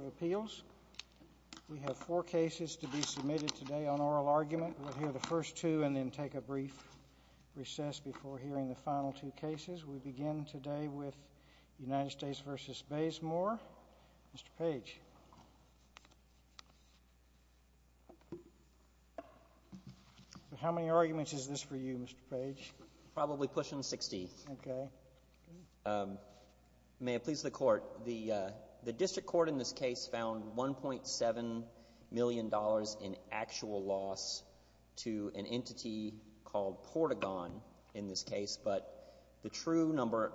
We have four cases to be submitted today on oral argument. We'll hear the first two and then take a brief recess before hearing the final two cases. We begin today with United States v. Bazemore. Mr. Page. How many arguments is this for you, Mr. Page? Probably pushing 60. Okay. May it please the Court, the district court in this case found $1.7 million in actual loss to an entity called Portagon in this case, but the true number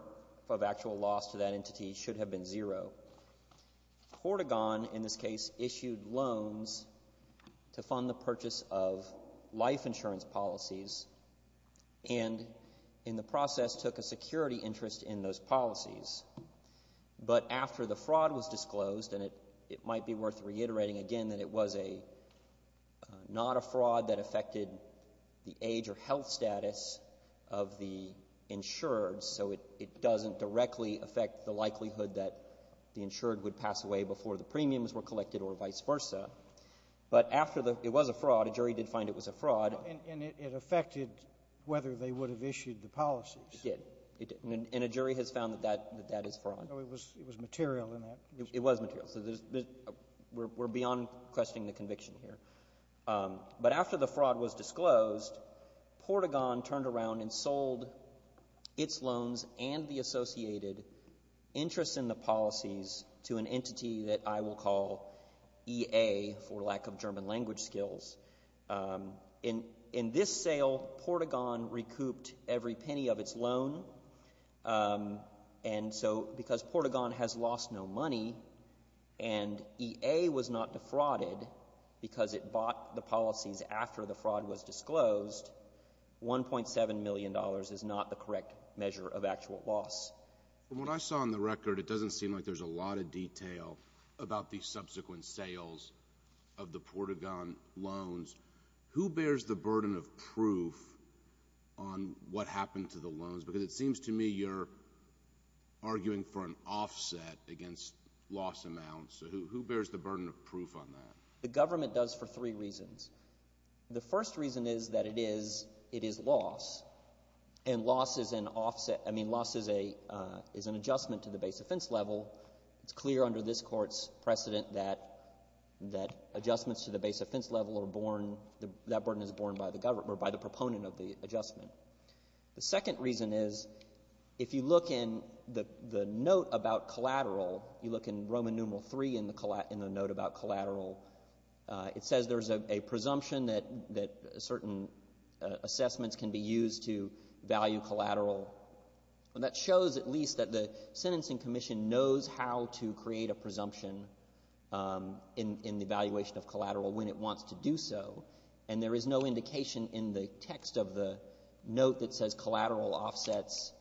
of actual loss to that entity should have been zero. Portagon in this case issued loans to fund the purchase of life insurance policies and in the process took a security interest in those policies. But after the fraud was disclosed, and it might be worth reiterating again that it was a — not a fraud that affected the age or health status of the insured, so it doesn't directly affect the likelihood that the insured would pass away before the premiums were collected or vice versa. But after the — it was a fraud. A jury did find it was a fraud. And it affected whether they would have issued the policies. It did. And a jury has found that that is fraud. It was material in that. It was material. So we're beyond questioning the conviction here. But after the fraud was disclosed, Portagon turned around and sold its loans and the associated interest in the policies to an entity that I will call EA for lack of German language skills. In this sale, Portagon recouped every penny of its loan. And so because Portagon has lost no money and EA was not defrauded because it bought the policies after the fraud was disclosed, $1.7 million is not the correct measure of actual loss. From what I saw on the record, it doesn't seem like there's a lot of detail about the subsequent sales of the Portagon loans. Who bears the burden of proof on what happened to the loans? Because it seems to me you're arguing for an offset against loss amounts. So who bears the burden of proof on that? The government does for three reasons. The first reason is that it is loss. And loss is an offset. I mean, loss is an adjustment to the base offense level. It's clear under this Court's precedent that adjustments to the base offense level are borne, that burden is borne by the government or by the proponent of the adjustment. The second reason is if you look in the note about collateral, you look in Roman numeral 3 in the note about collateral. It says there's a presumption that certain assessments can be used to value collateral. And that shows at least that the Sentencing Commission knows how to create a presumption in the valuation of collateral when it wants to do so. And there is no indication in the text of the note that says collateral offsets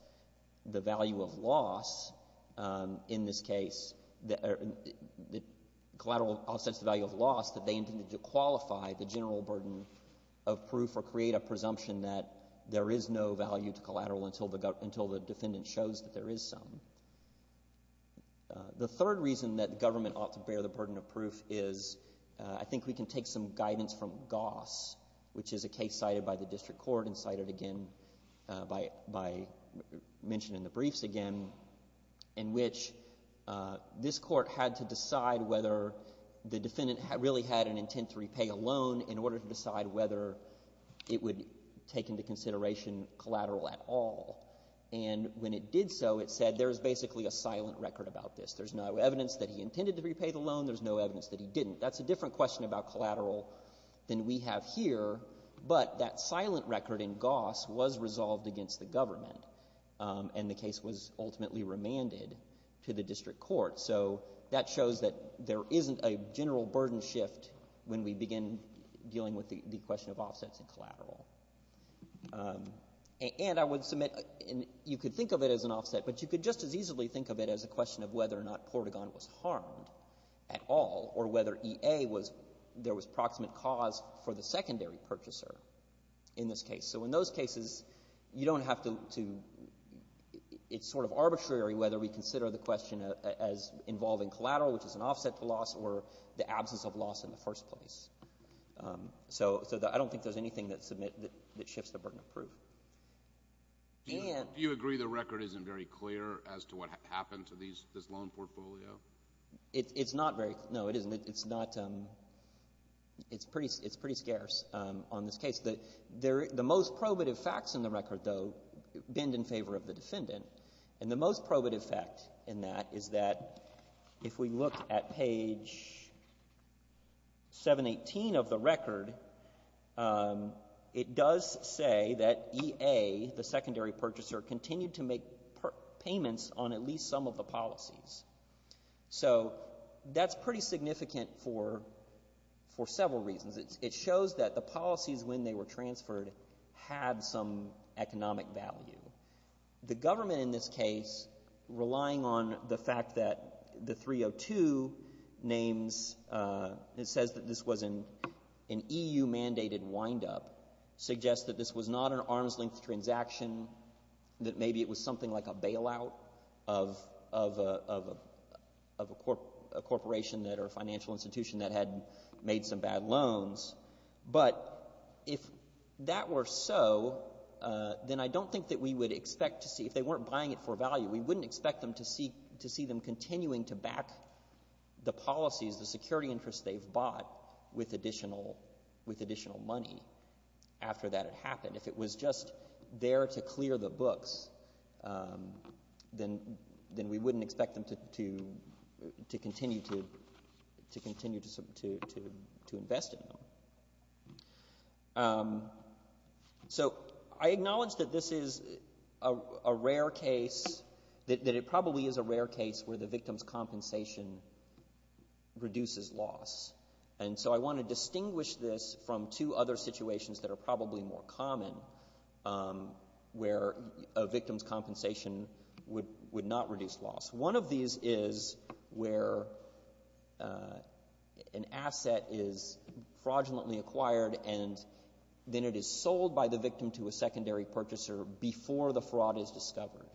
the value of loss in this case. Collateral offsets the value of loss that they intended to qualify the general burden of proof or create a presumption that there is no value to collateral until the defendant shows that there is some. The third reason that the government ought to bear the burden of proof is I think we can take some guidance from Goss, which is a case cited by the district court and cited again by mention in the briefs again, in which this court had to decide whether the defendant really had an intent to repay a loan in order to decide whether it would take into consideration collateral at all. And when it did so, it said there is basically a silent record about this. There's no evidence that he intended to repay the loan. There's no evidence that he didn't. That's a different question about collateral than we have here. But that silent record in Goss was resolved against the government, and the case was ultimately remanded to the district court. So that shows that there isn't a general burden shift when we begin dealing with the question of offsets in collateral. And I would submit you could think of it as an offset, but you could just as easily think of it as a question of whether or not Portagon was harmed at all or whether EA was — there was proximate cause for the secondary purchaser in this case. So in those cases, you don't have to — it's sort of arbitrary whether we consider the question as involving collateral, which is an offset to loss, or the absence of loss in the first place. So I don't think there's anything that shifts the burden of proof. Do you agree the record isn't very clear as to what happened to this loan portfolio? It's not very — no, it isn't. It's not — it's pretty scarce on this case. The most probative facts in the record, though, bend in favor of the defendant. And the most probative fact in that is that if we look at page 718 of the record, it does say that EA, the secondary purchaser, continued to make payments on at least some of the policies. So that's pretty significant for several reasons. It shows that the policies, when they were transferred, had some economic value. The government in this case, relying on the fact that the 302 names — it says that this was an EU-mandated windup, suggests that this was not an arm's-length transaction, that maybe it was something like a bailout of a corporation that — or a financial institution that had made some bad loans. But if that were so, then I don't think that we would expect to see — if they weren't buying it for value, we wouldn't expect them to see them continuing to back the policies, the security interests they've bought, with additional money after that had happened. If it was just there to clear the books, then we wouldn't expect them to continue to invest in them. So I acknowledge that this is a rare case — that it probably is a rare case where the victim's compensation reduces loss. And so I want to distinguish this from two other situations that are probably more common, where a victim's compensation would not reduce loss. One of these is where an asset is fraudulently acquired, and then it is sold by the victim to a secondary purchaser before the fraud is discovered.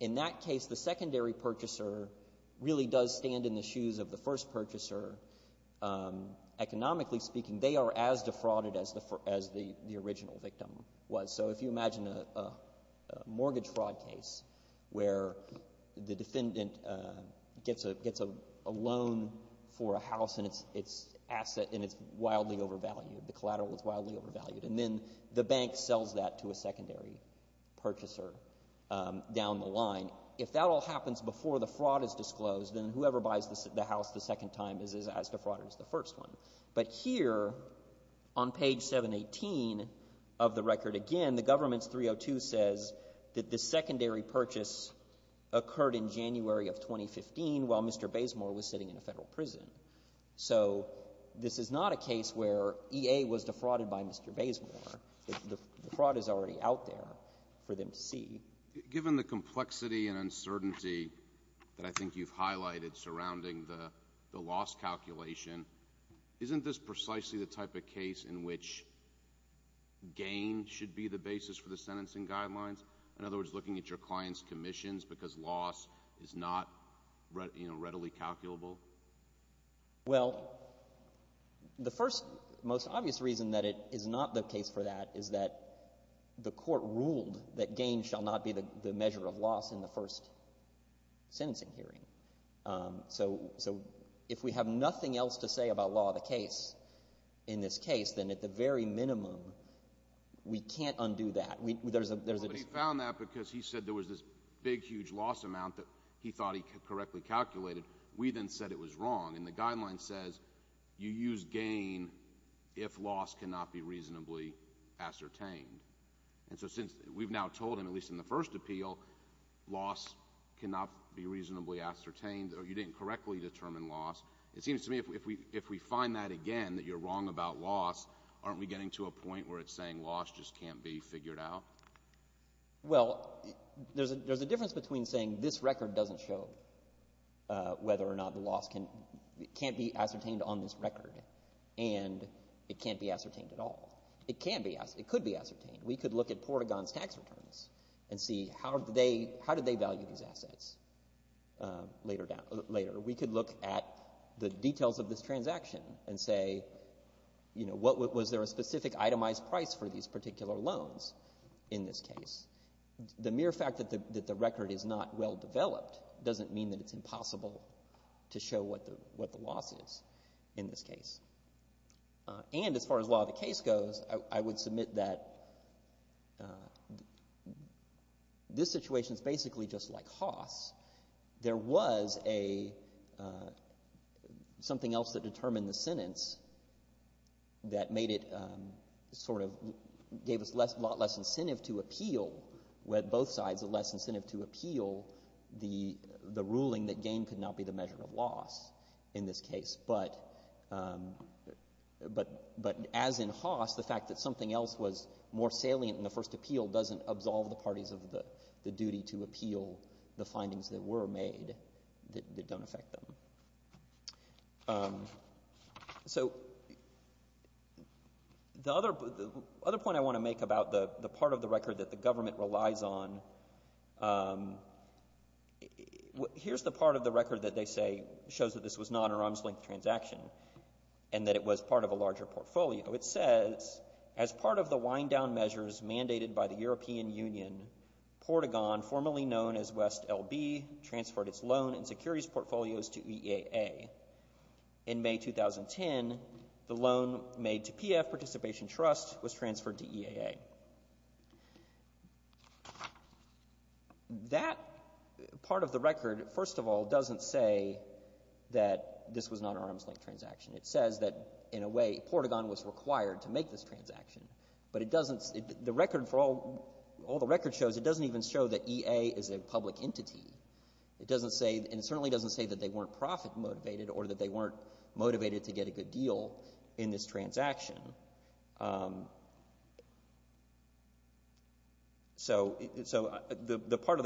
In that case, the secondary purchaser really does stand in the shoes of the first purchaser. Economically speaking, they are as defrauded as the original victim was. So if you imagine a mortgage fraud case where the defendant gets a loan for a house, and it's an asset, and it's wildly overvalued, the collateral is wildly overvalued, and then the bank sells that to a secondary purchaser down the line. If that all happens before the fraud is disclosed, then whoever buys the house the second time is as defrauded as the first one. But here, on page 718 of the record again, the Government's 302 says that the secondary purchase occurred in January of 2015 while Mr. Bazemore was sitting in a federal prison. So this is not a case where EA was defrauded by Mr. Bazemore. The fraud is already out there for them to see. Given the complexity and uncertainty that I think you've highlighted surrounding the loss calculation, isn't this precisely the type of case in which gain should be the basis for the sentencing guidelines? In other words, looking at your client's commissions because loss is not readily calculable? Well, the first most obvious reason that it is not the case for that is that the court ruled that gain shall not be the measure of loss in the first sentencing hearing. So if we have nothing else to say about law of the case in this case, then at the very minimum we can't undo that. But he found that because he said there was this big, huge loss amount that he thought he correctly calculated. We then said it was wrong, and the guideline says you use gain if loss cannot be reasonably ascertained. And so since we've now told him, at least in the first appeal, loss cannot be reasonably ascertained or you didn't correctly determine loss, it seems to me if we find that again, that you're wrong about loss, aren't we getting to a point where it's saying loss just can't be figured out? Well, there's a difference between saying this record doesn't show whether or not the loss can't be ascertained on this record and it can't be ascertained at all. It could be ascertained. We could look at Portagon's tax returns and see how did they value these assets later. We could look at the details of this transaction and say, was there a specific itemized price for these particular loans in this case? The mere fact that the record is not well developed doesn't mean that it's impossible to show what the loss is in this case. And as far as law of the case goes, I would submit that this situation is basically just like Haas. There was something else that determined the sentence that made it sort of gave us a lot less incentive to appeal. Both sides had less incentive to appeal the ruling that gain could not be the measure of loss in this case. But as in Haas, the fact that something else was more salient in the first appeal doesn't absolve the parties of the duty to appeal the findings that were made that don't affect them. So the other point I want to make about the part of the record that the government relies on, here's the part of the record that they say shows that this was not an arm's-length transaction and that it was part of a larger portfolio. It says, as part of the wind-down measures mandated by the European Union, Portagon, formerly known as West LB, transferred its loan and securities portfolios to EAA. In May 2010, the loan made to PF Participation Trust was transferred to EAA. That part of the record, first of all, doesn't say that this was not an arm's-length transaction. It says that, in a way, Portagon was required to make this transaction. But all the record shows, it doesn't even show that EAA is a public entity. And it certainly doesn't say that they weren't profit-motivated or that they weren't motivated to get a good deal in this transaction. So the part of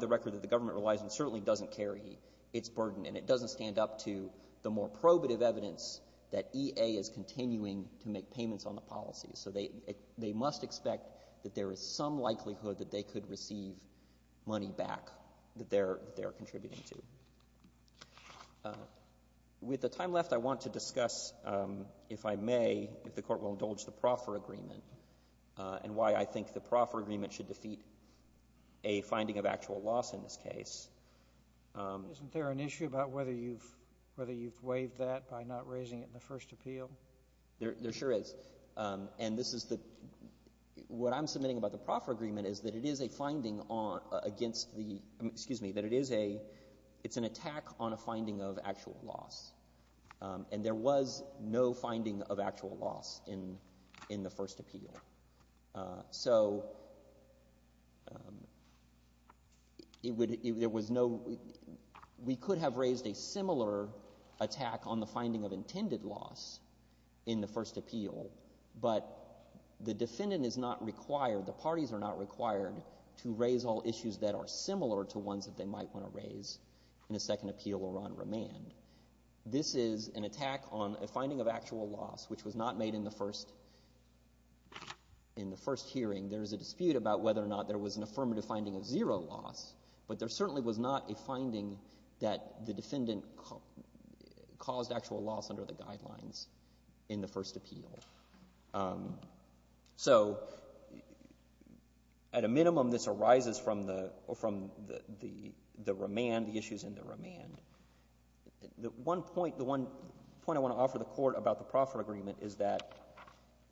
the record that the government relies on certainly doesn't carry its burden, and it doesn't stand up to the more probative evidence that EAA is continuing to make payments on the policy. So they must expect that there is some likelihood that they could receive money back that they're contributing to. With the time left, I want to discuss, if I may, if the Court will indulge, the proffer agreement and why I think the proffer agreement should defeat a finding of actual loss in this case. Isn't there an issue about whether you've waived that by not raising it in the first appeal? There sure is. And this is the — what I'm submitting about the proffer agreement is that it is a finding against the — excuse me, that it is a — it's an attack on a finding of actual loss. And there was no finding of actual loss in the first appeal. So it would — there was no — we could have raised a similar attack on the finding of intended loss in the first appeal, but the defendant is not required, the parties are not required to raise all issues that are similar to ones that they might want to raise in a second appeal or on remand. This is an attack on a finding of actual loss, which was not made in the first hearing. There is a dispute about whether or not there was an affirmative finding of zero loss, but there certainly was not a finding that the defendant caused actual loss under the guidelines in the first appeal. So at a minimum, this arises from the remand, the issues in the remand. The one point — the one point I want to offer the Court about the proffer agreement is that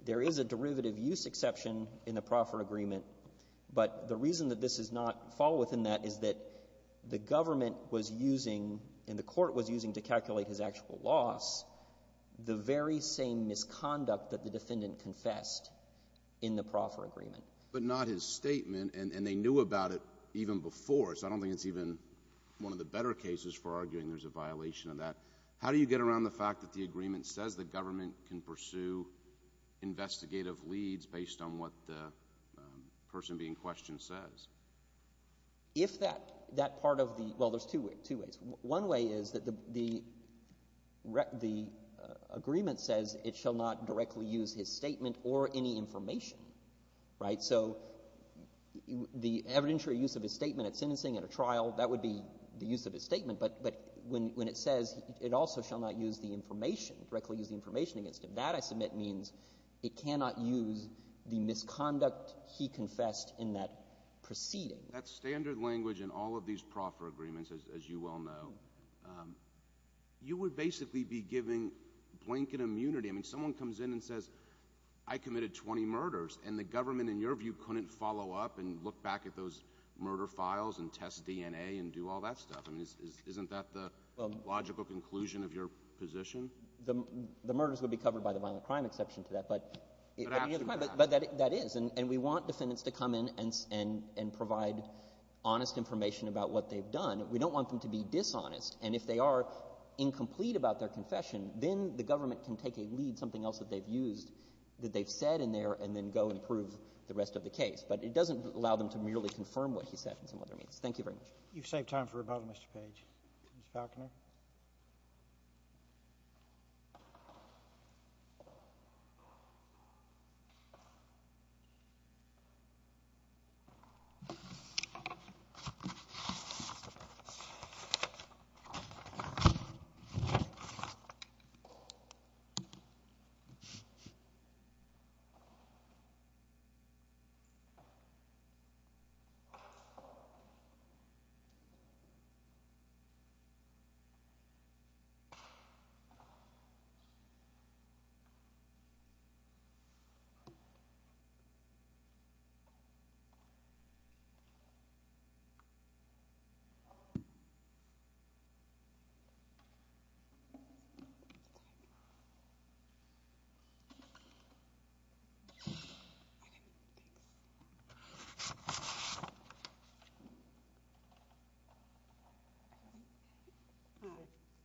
there is a derivative use exception in the proffer agreement, but the reason that this does not fall within that is that the government was using and the Court was using to calculate his actual loss the very same misconduct that the defendant confessed in the proffer agreement. But not his statement, and they knew about it even before, so I don't think it's even one of the better cases for arguing there's a violation of that. How do you get around the fact that the agreement says the government can pursue investigative leads based on what the person being questioned says? If that part of the — well, there's two ways. One way is that the agreement says it shall not directly use his statement or any information, right? So the evidentiary use of his statement at sentencing, at a trial, that would be the use of his statement. But when it says it also shall not use the information, directly use the information against him, that I submit means it cannot use the misconduct he confessed in that proceeding. That standard language in all of these proffer agreements, as you well know, you would basically be giving blanket immunity. I mean, someone comes in and says, I committed 20 murders, and the government in your view couldn't follow up and look back at those murder files and test DNA and do all that stuff? I mean, isn't that the logical conclusion of your position? The murders would be covered by the violent crime exception to that, but — But absolutely not. But that is. And we want defendants to come in and provide honest information about what they've done. We don't want them to be dishonest. And if they are incomplete about their confession, then the government can take a that they've said in there and then go and prove the rest of the case. But it doesn't allow them to merely confirm what he said in some other means. Thank you very much. You've saved time for rebuttal, Mr. Page. Mr. Falconer. Thank you.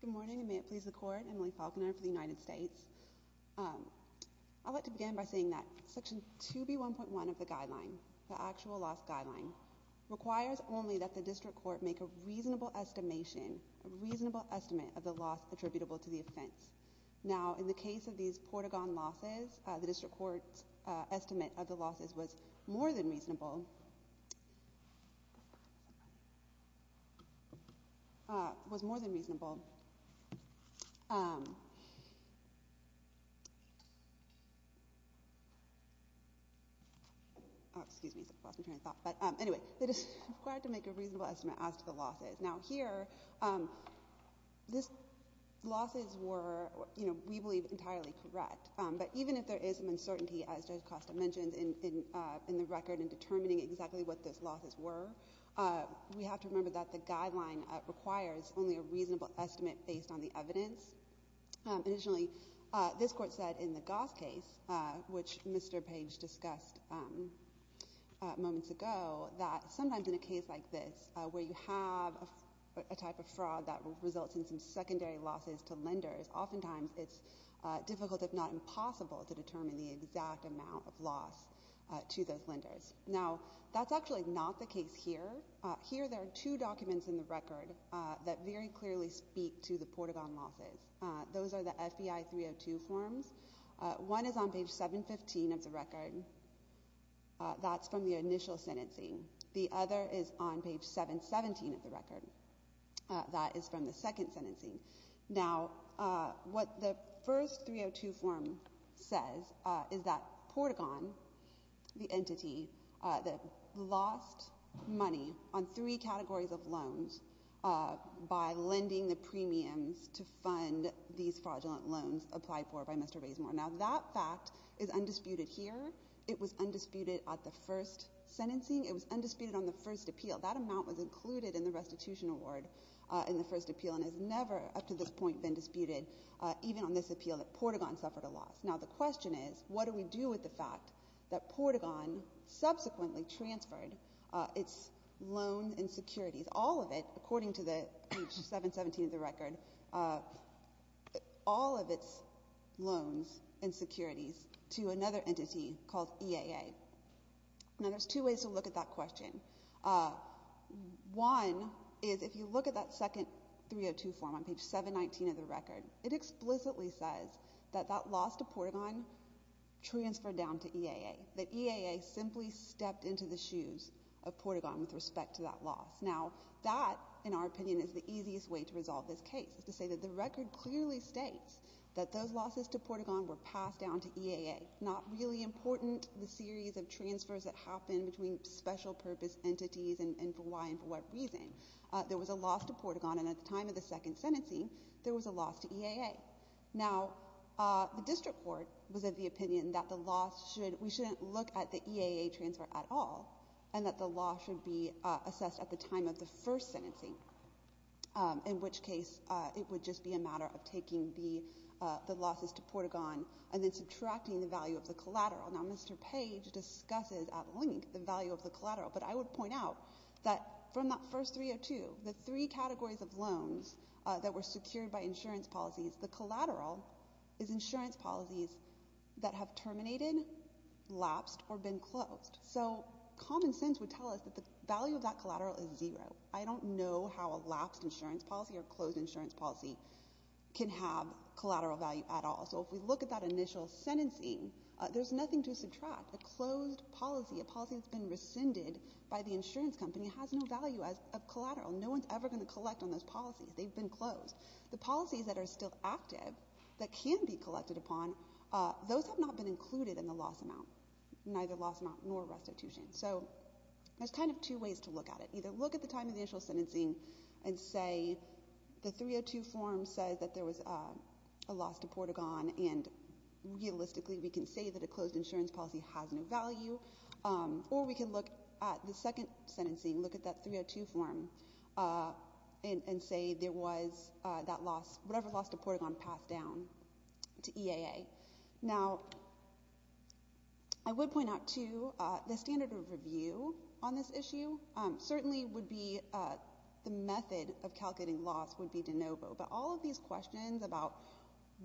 Good morning, and may it please the Court. Emily Falconer for the United States. I'd like to begin by saying that Section 2B1.1 of the guideline, the actual loss guideline, requires only that the district court make a reasonable estimation, a reasonable estimate of the loss attributable to the offense. Now, in the case of these Portagon losses, the district court's estimate of the losses was more than reasonable — was more than reasonable. Excuse me. I lost my train of thought. But anyway, it is required to make a reasonable estimate as to the losses. Now, here, these losses were, you know, we believe entirely correct. But even if there is some uncertainty, as Judge Costa mentioned, in the record in determining exactly what those losses were, we have to remember that the guideline requires only a reasonable estimate based on the evidence. Additionally, this Court said in the Goss case, which Mr. Page discussed moments ago, that sometimes in a case like this, where you have a type of fraud that results in some secondary losses to lenders, oftentimes it's difficult, if not impossible, to determine the exact amount of loss to those lenders. Now, that's actually not the case here. Here, there are two documents in the record that very clearly speak to the Portagon losses. Those are the FBI 302 forms. One is on page 715 of the record. That's from the initial sentencing. The other is on page 717 of the record. That is from the second sentencing. Now, what the first 302 form says is that Portagon, the entity that lost money on three categories of loans by lending the premiums to fund these fraudulent loans applied for by Mr. Raysmore. Now, that fact is undisputed here. It was undisputed at the first sentencing. It was undisputed on the first appeal. That amount was included in the restitution award in the first appeal and has never up to this point been disputed, even on this appeal, that Portagon suffered a loss. Now, the question is, what do we do with the fact that Portagon subsequently transferred its loans and securities, all of it, according to page 717 of the record, all of its loans and securities to another entity called EAA? Now, there's two ways to look at that question. One is if you look at that second 302 form on page 719 of the record, it explicitly says that that loss to Portagon transferred down to EAA, that EAA simply stepped into the shoes of Portagon with respect to that loss. Now, that, in our opinion, is the easiest way to resolve this case is to say that the record clearly states that those losses to Portagon were passed down to EAA, not really important the series of transfers that happened between special purpose entities and for what reason. There was a loss to Portagon, and at the time of the second sentencing, there was a loss to EAA. Now, the district court was of the opinion that the loss should – we shouldn't look at the EAA transfer at all and that the loss should be assessed at the time of the first sentencing, in which case it would just be a matter of taking the losses to Portagon and then subtracting the value of the collateral. Now, Mr. Page discusses at length the value of the collateral, but I would point out that from that first 302, the three categories of loans that were secured by insurance policies, the collateral is insurance policies that have terminated, lapsed, or been closed. So common sense would tell us that the value of that collateral is zero. I don't know how a lapsed insurance policy or closed insurance policy can have collateral value at all. So if we look at that initial sentencing, there's nothing to subtract. A closed policy, a policy that's been rescinded by the insurance company, has no value as a collateral. No one's ever going to collect on those policies. They've been closed. The policies that are still active, that can be collected upon, those have not been included in the loss amount, neither loss amount nor restitution. So there's kind of two ways to look at it. Either look at the time of the initial sentencing and say the 302 form says that there was a loss to Portagon and realistically we can say that a closed insurance policy has no value, or we can look at the second sentencing, look at that 302 form and say there was that loss, whatever loss to Portagon passed down to EAA. Now, I would point out, too, the standard of review on this issue certainly would be the method of calculating loss would be de novo. But all of these questions about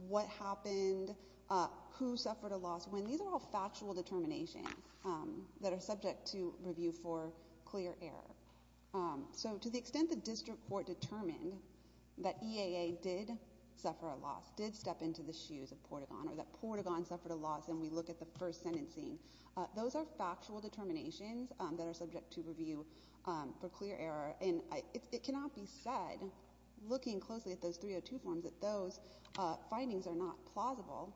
what happened, who suffered a loss, when, these are all factual determinations that are subject to review for clear error. So to the extent the district court determined that EAA did suffer a loss, did step into the shoes of Portagon, or that Portagon suffered a loss and we look at the first sentencing, those are factual determinations that are subject to review for clear error. And it cannot be said, looking closely at those 302 forms, that those findings are not plausible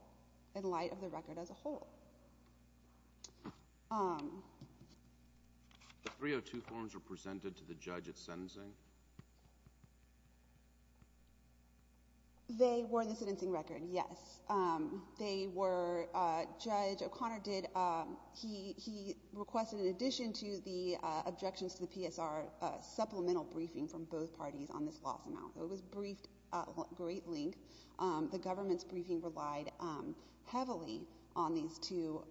in light of the record as a whole. The 302 forms were presented to the judge at sentencing? They were in the sentencing record, yes. They were, Judge O'Connor did, he requested in addition to the objections to the PSR, supplemental briefing from both parties on this loss amount. It was briefed at great length. The government's briefing relied heavily on these two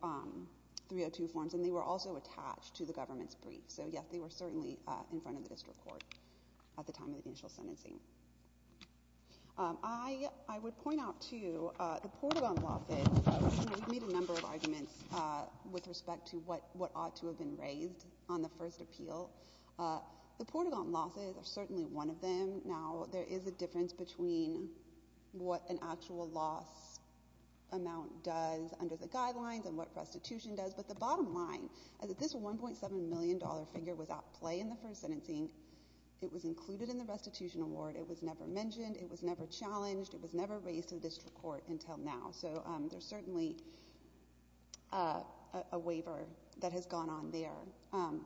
302 forms and they were also attached to the government's brief. So yes, they were certainly in front of the district court at the time of the initial sentencing. I would point out too, the Portagon losses, we've made a number of arguments with respect to what ought to have been raised on the first appeal. The Portagon losses are certainly one of them. Now, there is a difference between what an actual loss amount does under the guidelines and what restitution does, but the bottom line is that this $1.7 million figure was at play in the first sentencing, it was included in the restitution award, it was never mentioned, it was never challenged, it was never raised to the district court until now. So there's certainly a waiver that has gone on there.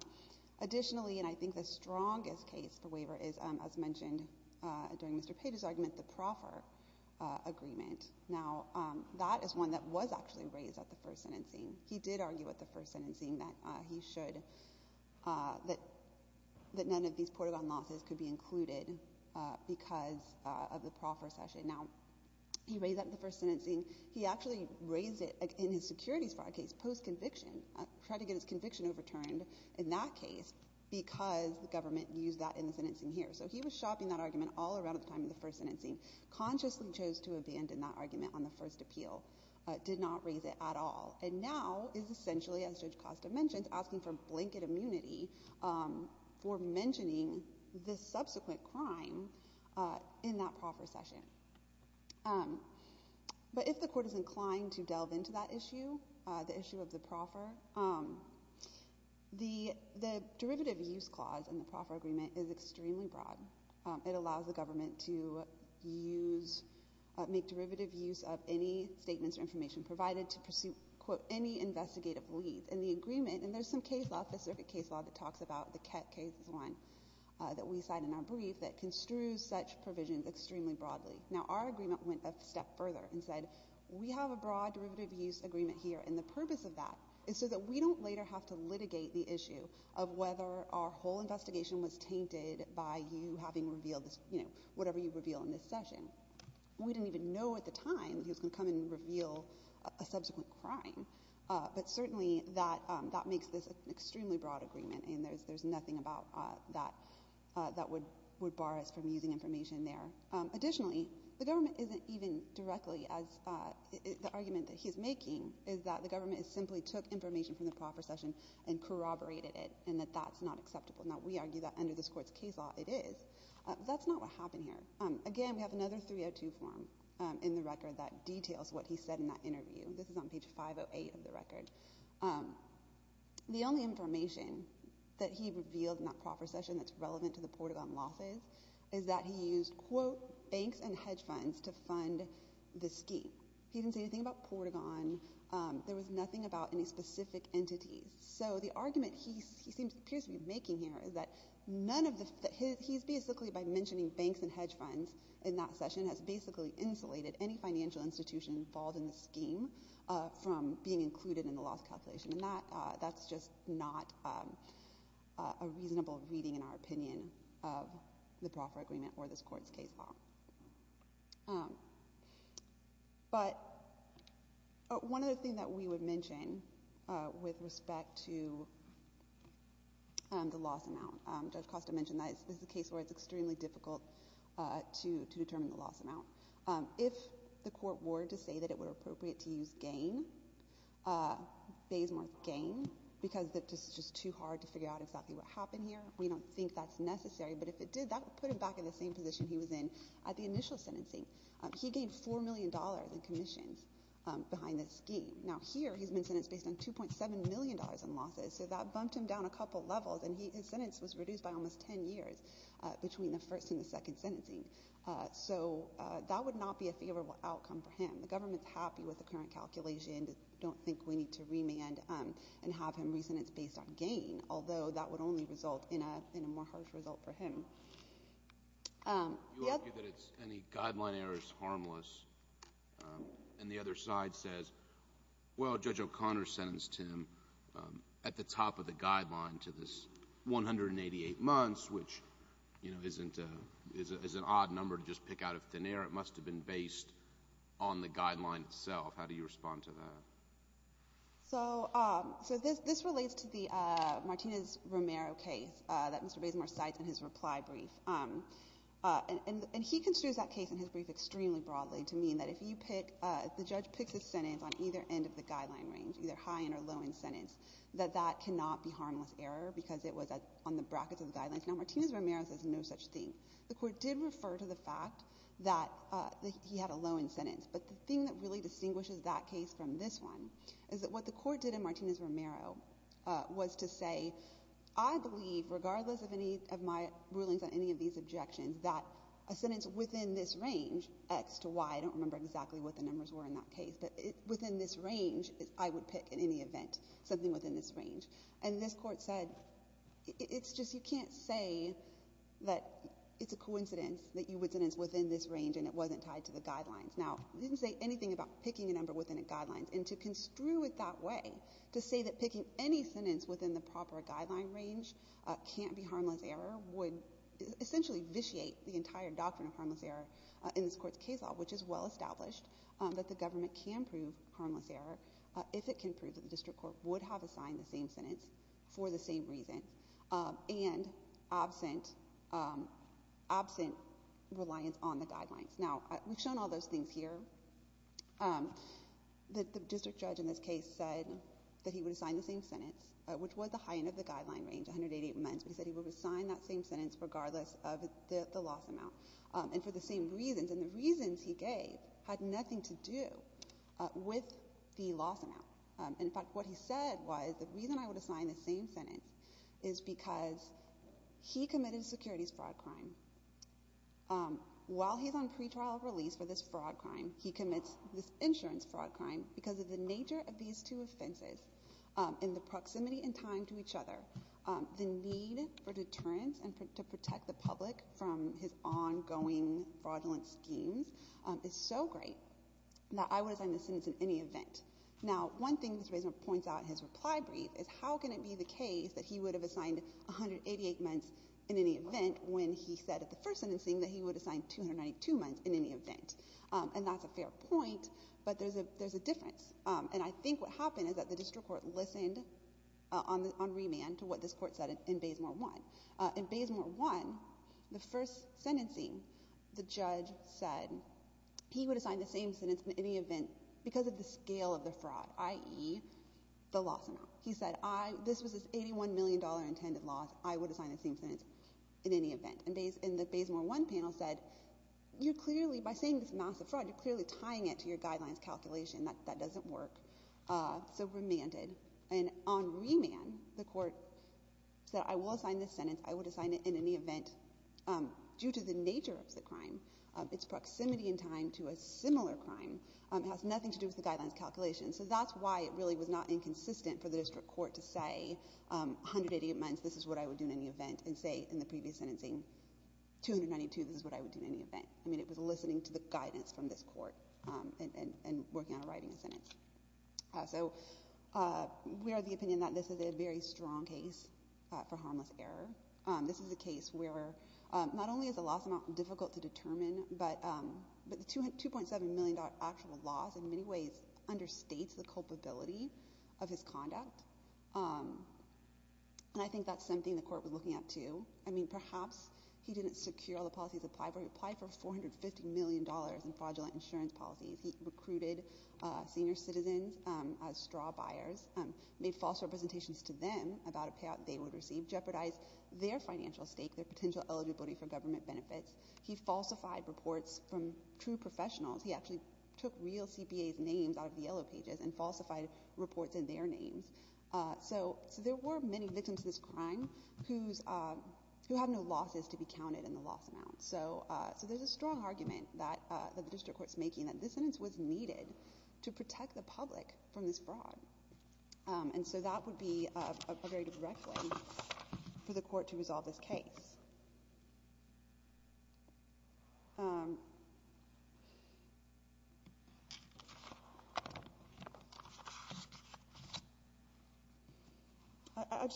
Additionally, and I think the strongest case for waiver is, as mentioned during Mr. Page's argument, the proffer agreement. Now, that is one that was actually raised at the first sentencing. He did argue at the first sentencing that none of these Portagon losses could be included because of the proffer session. Now, he raised that at the first sentencing. He actually raised it in his securities fraud case post-conviction, tried to get his conviction overturned in that case because the government used that in the sentencing here. So he was shopping that argument all around at the time of the first sentencing, consciously chose to abandon that argument on the first appeal, did not raise it at all, and now is essentially, as Judge Costa mentioned, asking for blanket immunity for mentioning this subsequent crime in that proffer session. But if the court is inclined to delve into that issue, the issue of the proffer, the derivative use clause in the proffer agreement is extremely broad. It allows the government to use, make derivative use of any statements or information provided to pursue, quote, any investigative lead. And the agreement, and there's some case law, specific case law, that talks about the Kett case is one that we cite in our brief, that construes such provisions extremely broadly. Now, our agreement went a step further and said, we have a broad derivative use agreement here, and the purpose of that is so that we don't later have to litigate the issue of whether our whole investigation was tainted by you having revealed, you know, whatever you reveal in this session. We didn't even know at the time that he was going to come and reveal a subsequent crime. But certainly that makes this an extremely broad agreement, and there's nothing about that that would bar us from using information there. Additionally, the government isn't even directly, as the argument that he's making, is that the government simply took information from the proffer session and corroborated it, and that that's not acceptable. Now, we argue that under this court's case law it is. That's not what happened here. Again, we have another 302 form in the record that details what he said in that interview. This is on page 508 of the record. The only information that he revealed in that proffer session that's relevant to the Portagon losses is that he used, quote, banks and hedge funds to fund the scheme. He didn't say anything about Portagon. There was nothing about any specific entities. So the argument he appears to be making here is that none of the – he's basically, by mentioning banks and hedge funds in that session, has basically insulated any financial institution involved in the scheme from being included in the loss calculation, and that's just not a reasonable reading, in our opinion, of the proffer agreement or this court's case law. But one other thing that we would mention with respect to the loss amount, Judge Costa mentioned that this is a case where it's extremely difficult to determine the loss amount. If the court were to say that it were appropriate to use gain, Bayes-Morth gain, because it's just too hard to figure out exactly what happened here, we don't think that's necessary. But if it did, that would put him back in the same position he was in at the initial sentencing. He gained $4 million in commissions behind this scheme. Now, here he's been sentenced based on $2.7 million in losses, so that bumped him down a couple levels, and his sentence was reduced by almost 10 years between the first and the second sentencing. So that would not be a favorable outcome for him. The government's happy with the current calculation. They don't think we need to remand and have him reason it's based on gain, although that would only result in a more harsh result for him. You argue that any guideline error is harmless, and the other side says, well, Judge O'Connor sentenced him at the top of the guideline to this 188 months, which is an odd number to just pick out of thin air. It must have been based on the guideline itself. How do you respond to that? So this relates to the Martinez-Romero case that Mr. Bayes-Morth cites in his reply brief. And he construes that case in his brief extremely broadly to mean that if you pick, if the judge picks a sentence on either end of the guideline range, either high-end or low-end sentence, that that cannot be harmless error because it was on the brackets of the guidelines. Now, Martinez-Romero says no such thing. The Court did refer to the fact that he had a low-end sentence. But the thing that really distinguishes that case from this one is that what the Court did in Martinez-Romero was to say, I believe, regardless of any of my rulings on any of these objections, that a sentence within this range, X to Y, I don't remember exactly what the numbers were in that case, but within this range I would pick in any event something within this range. And this Court said it's just you can't say that it's a coincidence that you would sentence within this range and it wasn't tied to the guidelines. Now, he didn't say anything about picking a number within a guideline. And to construe it that way, to say that picking any sentence within the proper guideline range can't be harmless error would essentially vitiate the entire doctrine of harmless error in this Court's case law, which is well established, that the government can prove harmless error if it can prove that the district court would have assigned the same sentence for the same reason and absent reliance on the guidelines. Now, we've shown all those things here. The district judge in this case said that he would assign the same sentence, which was the high end of the guideline range, 188 months, but he said he would assign that same sentence regardless of the loss amount and for the same reasons. And the reasons he gave had nothing to do with the loss amount. In fact, what he said was the reason I would assign the same sentence is because he committed securities fraud crime. While he's on pretrial release for this fraud crime, he commits this insurance fraud crime because of the nature of these two offenses in the proximity in time to each other. The need for deterrence and to protect the public from his ongoing fraudulent schemes is so great that I would assign the sentence in any event. Now, one thing Mr. Bazemore points out in his reply brief is how can it be the case that he would have assigned 188 months in any event when he said at the first sentencing that he would assign 292 months in any event. And that's a fair point, but there's a difference. And I think what happened is that the district court listened on remand to what this court said in Bazemore 1. In Bazemore 1, the first sentencing, the judge said he would assign the same sentence in any event because of the scale of the fraud, i.e., the loss amount. He said this was this $81 million intended loss. I would assign the same sentence in any event. And the Bazemore 1 panel said you're clearly, by saying this massive fraud, you're clearly tying it to your guidelines calculation. That doesn't work. So remanded. And on remand, the court said I will assign this sentence. I would assign it in any event due to the nature of the crime, its proximity in time to a similar crime. It has nothing to do with the guidelines calculation. So that's why it really was not inconsistent for the district court to say 188 months, this is what I would do in any event, and say in the previous sentencing, 292, this is what I would do in any event. I mean, it was listening to the guidance from this court and working on writing a sentence. So we are of the opinion that this is a very strong case for harmless error. This is a case where not only is the loss amount difficult to determine, but the $2.7 million actual loss in many ways understates the culpability of his conduct. And I think that's something the court was looking at, too. I mean, perhaps he didn't secure all the policies applied for. He applied for $450 million in fraudulent insurance policies. He recruited senior citizens as straw buyers, made false representations to them about a payout they would receive, and he jeopardized their financial stake, their potential eligibility for government benefits. He falsified reports from true professionals. He actually took real CPAs' names out of the yellow pages and falsified reports in their names. So there were many victims of this crime who have no losses to be counted in the loss amount. So there's a strong argument that the district court is making that this sentence was needed to protect the public from this fraud. And so that would be a very direct way for the court to resolve this case.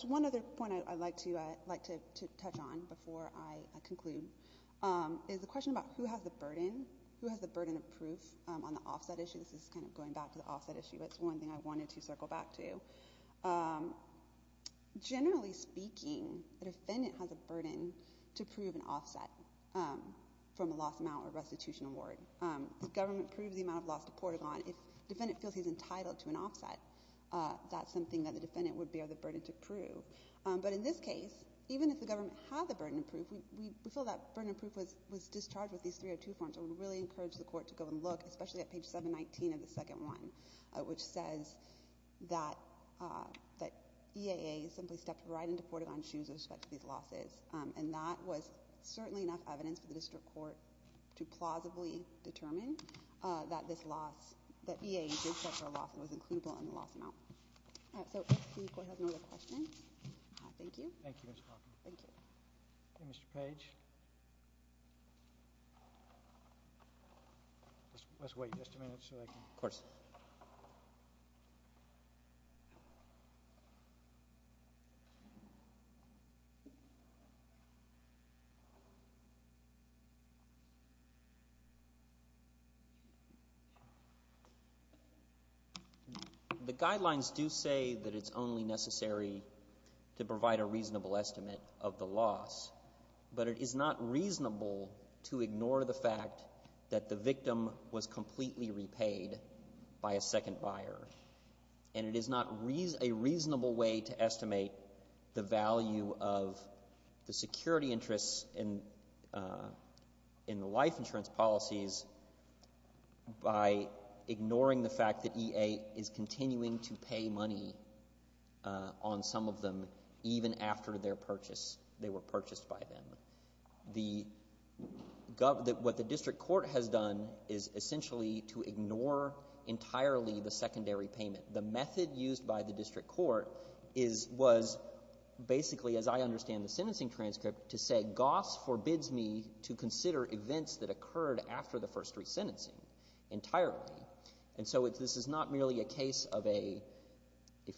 One other point I'd like to touch on before I conclude is the question about who has the burden of proof on the offset issue. This is kind of going back to the offset issue. It's one thing I wanted to circle back to. Generally speaking, the defendant has a burden to prove an offset from a loss amount or restitution award. The government proves the amount of loss to Portagon. If the defendant feels he's entitled to an offset, that's something that the defendant would bear the burden to prove. But in this case, even if the government had the burden of proof, we feel that burden of proof was discharged with these 302 forms. I would really encourage the court to go and look, especially at page 719 of the second one, which says that EAA simply stepped right into Portagon's shoes with respect to these losses. And that was certainly enough evidence for the district court to plausibly determine that this loss, that EAA did step for a loss and was includable in the loss amount. So if the court has no other questions, thank you. Thank you, Ms. Hawkins. Thank you. Mr. Page. Let's wait just a minute so I can. Of course. The guidelines do say that it's only necessary to provide a reasonable estimate of the loss. But it is not reasonable to ignore the fact that the victim was completely repaid by a second buyer. And it is not a reasonable way to estimate the value of the security interests in the life insurance policies by ignoring the fact that EAA is continuing to pay money on some of them even after their purchase. What the district court has done is essentially to ignore entirely the secondary payment. The method used by the district court was basically, as I understand the sentencing transcript, to say GOSS forbids me to consider events that occurred after the first resentencing entirely. And so this is not merely a case of a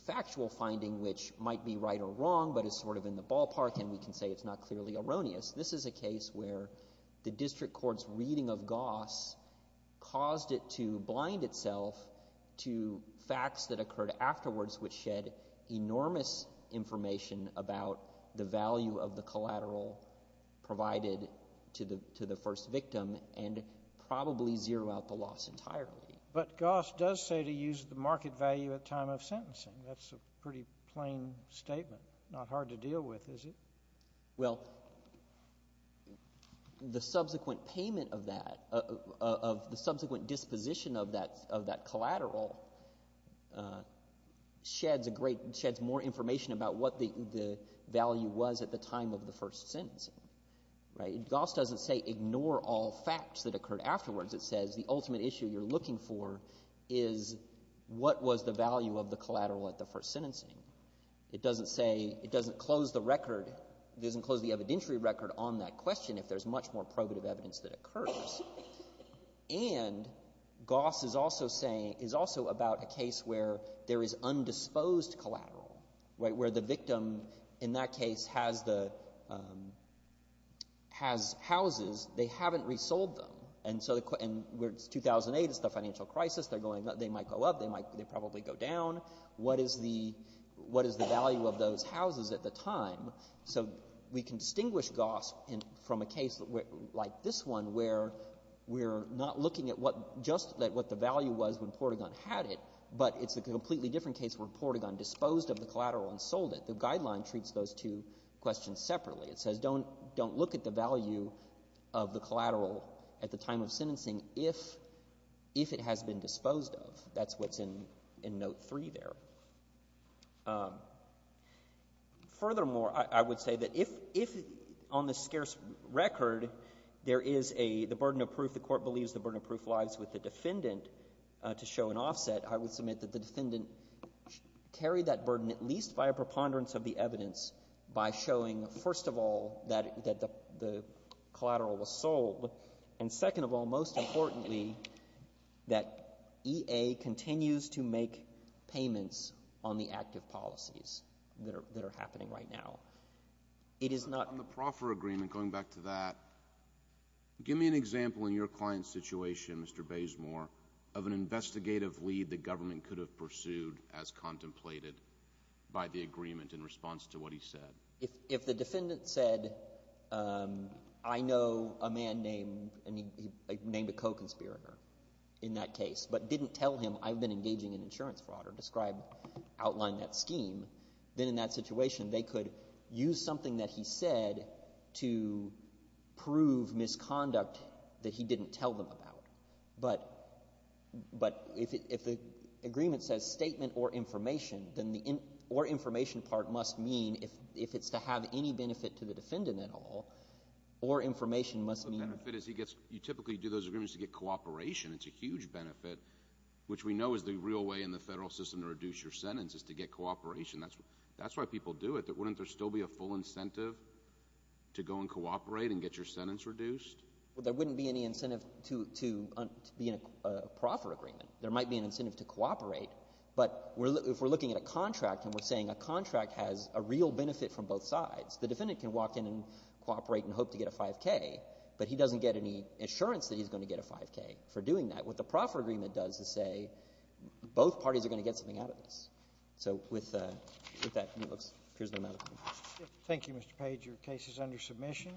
factual finding which might be right or wrong but is sort of in the ballpark and we can say it's not clearly erroneous. This is a case where the district court's reading of GOSS caused it to blind itself to facts that occurred afterwards which shed enormous information about the value of the collateral provided to the first victim and probably zero out the loss entirely. But GOSS does say to use the market value at time of sentencing. That's a pretty plain statement. Not hard to deal with, is it? Well, the subsequent payment of that, of the subsequent disposition of that collateral sheds more information about what the value was at the time of the first sentencing. Right? GOSS doesn't say ignore all facts that occurred afterwards. It says the ultimate issue you're looking for is what was the value of the collateral at the first sentencing. It doesn't say, it doesn't close the record, it doesn't close the evidentiary record on that question if there's much more probative evidence that occurs. And GOSS is also saying, is also about a case where there is undisposed collateral, right, where the victim in that case has the, has houses. They haven't resold them. And so in 2008 it's the financial crisis. They might go up. They probably go down. What is the value of those houses at the time? So we can distinguish GOSS from a case like this one where we're not looking at just what the value was when Portagon had it, but it's a completely different case where Portagon disposed of the collateral and sold it. The Guideline treats those two questions separately. It says don't look at the value of the collateral at the time of sentencing if it has been disposed of. That's what's in Note 3 there. Furthermore, I would say that if on the scarce record there is the burden of proof, the court believes the burden of proof lies with the defendant to show an offset, I would submit that the defendant carried that burden at least by a preponderance of the evidence by showing, first of all, that the collateral was not disposed of. It continues to make payments on the active policies that are happening right now. It is not — But on the proffer agreement, going back to that, give me an example in your client's situation, Mr. Bazemore, of an investigative lead the government could have pursued as contemplated by the agreement in response to what he said. If the defendant said, I know a man named — named a co-conspirator in that case, but didn't tell him I've been engaging in insurance fraud or describe — outline that scheme, then in that situation they could use something that he said to prove misconduct that he didn't tell them about. But — but if the agreement says statement or information, then the — or information part must mean, if it's to have any benefit to the defendant at all, or information must mean — The benefit is he gets — you typically do those agreements to get cooperation. It's a huge benefit, which we know is the real way in the Federal system to reduce your sentence is to get cooperation. That's why people do it. Wouldn't there still be a full incentive to go and cooperate and get your sentence reduced? Well, there wouldn't be any incentive to be in a proffer agreement. There might be an incentive to cooperate. But if we're looking at a contract and we're saying a contract has a real benefit from both sides, the defendant can walk in and cooperate and hope to get a 5K. But he doesn't get any assurance that he's going to get a 5K for doing that. What the proffer agreement does is say both parties are going to get something out of this. So with that, it appears no matter. Thank you, Mr. Page. Your case is under submission.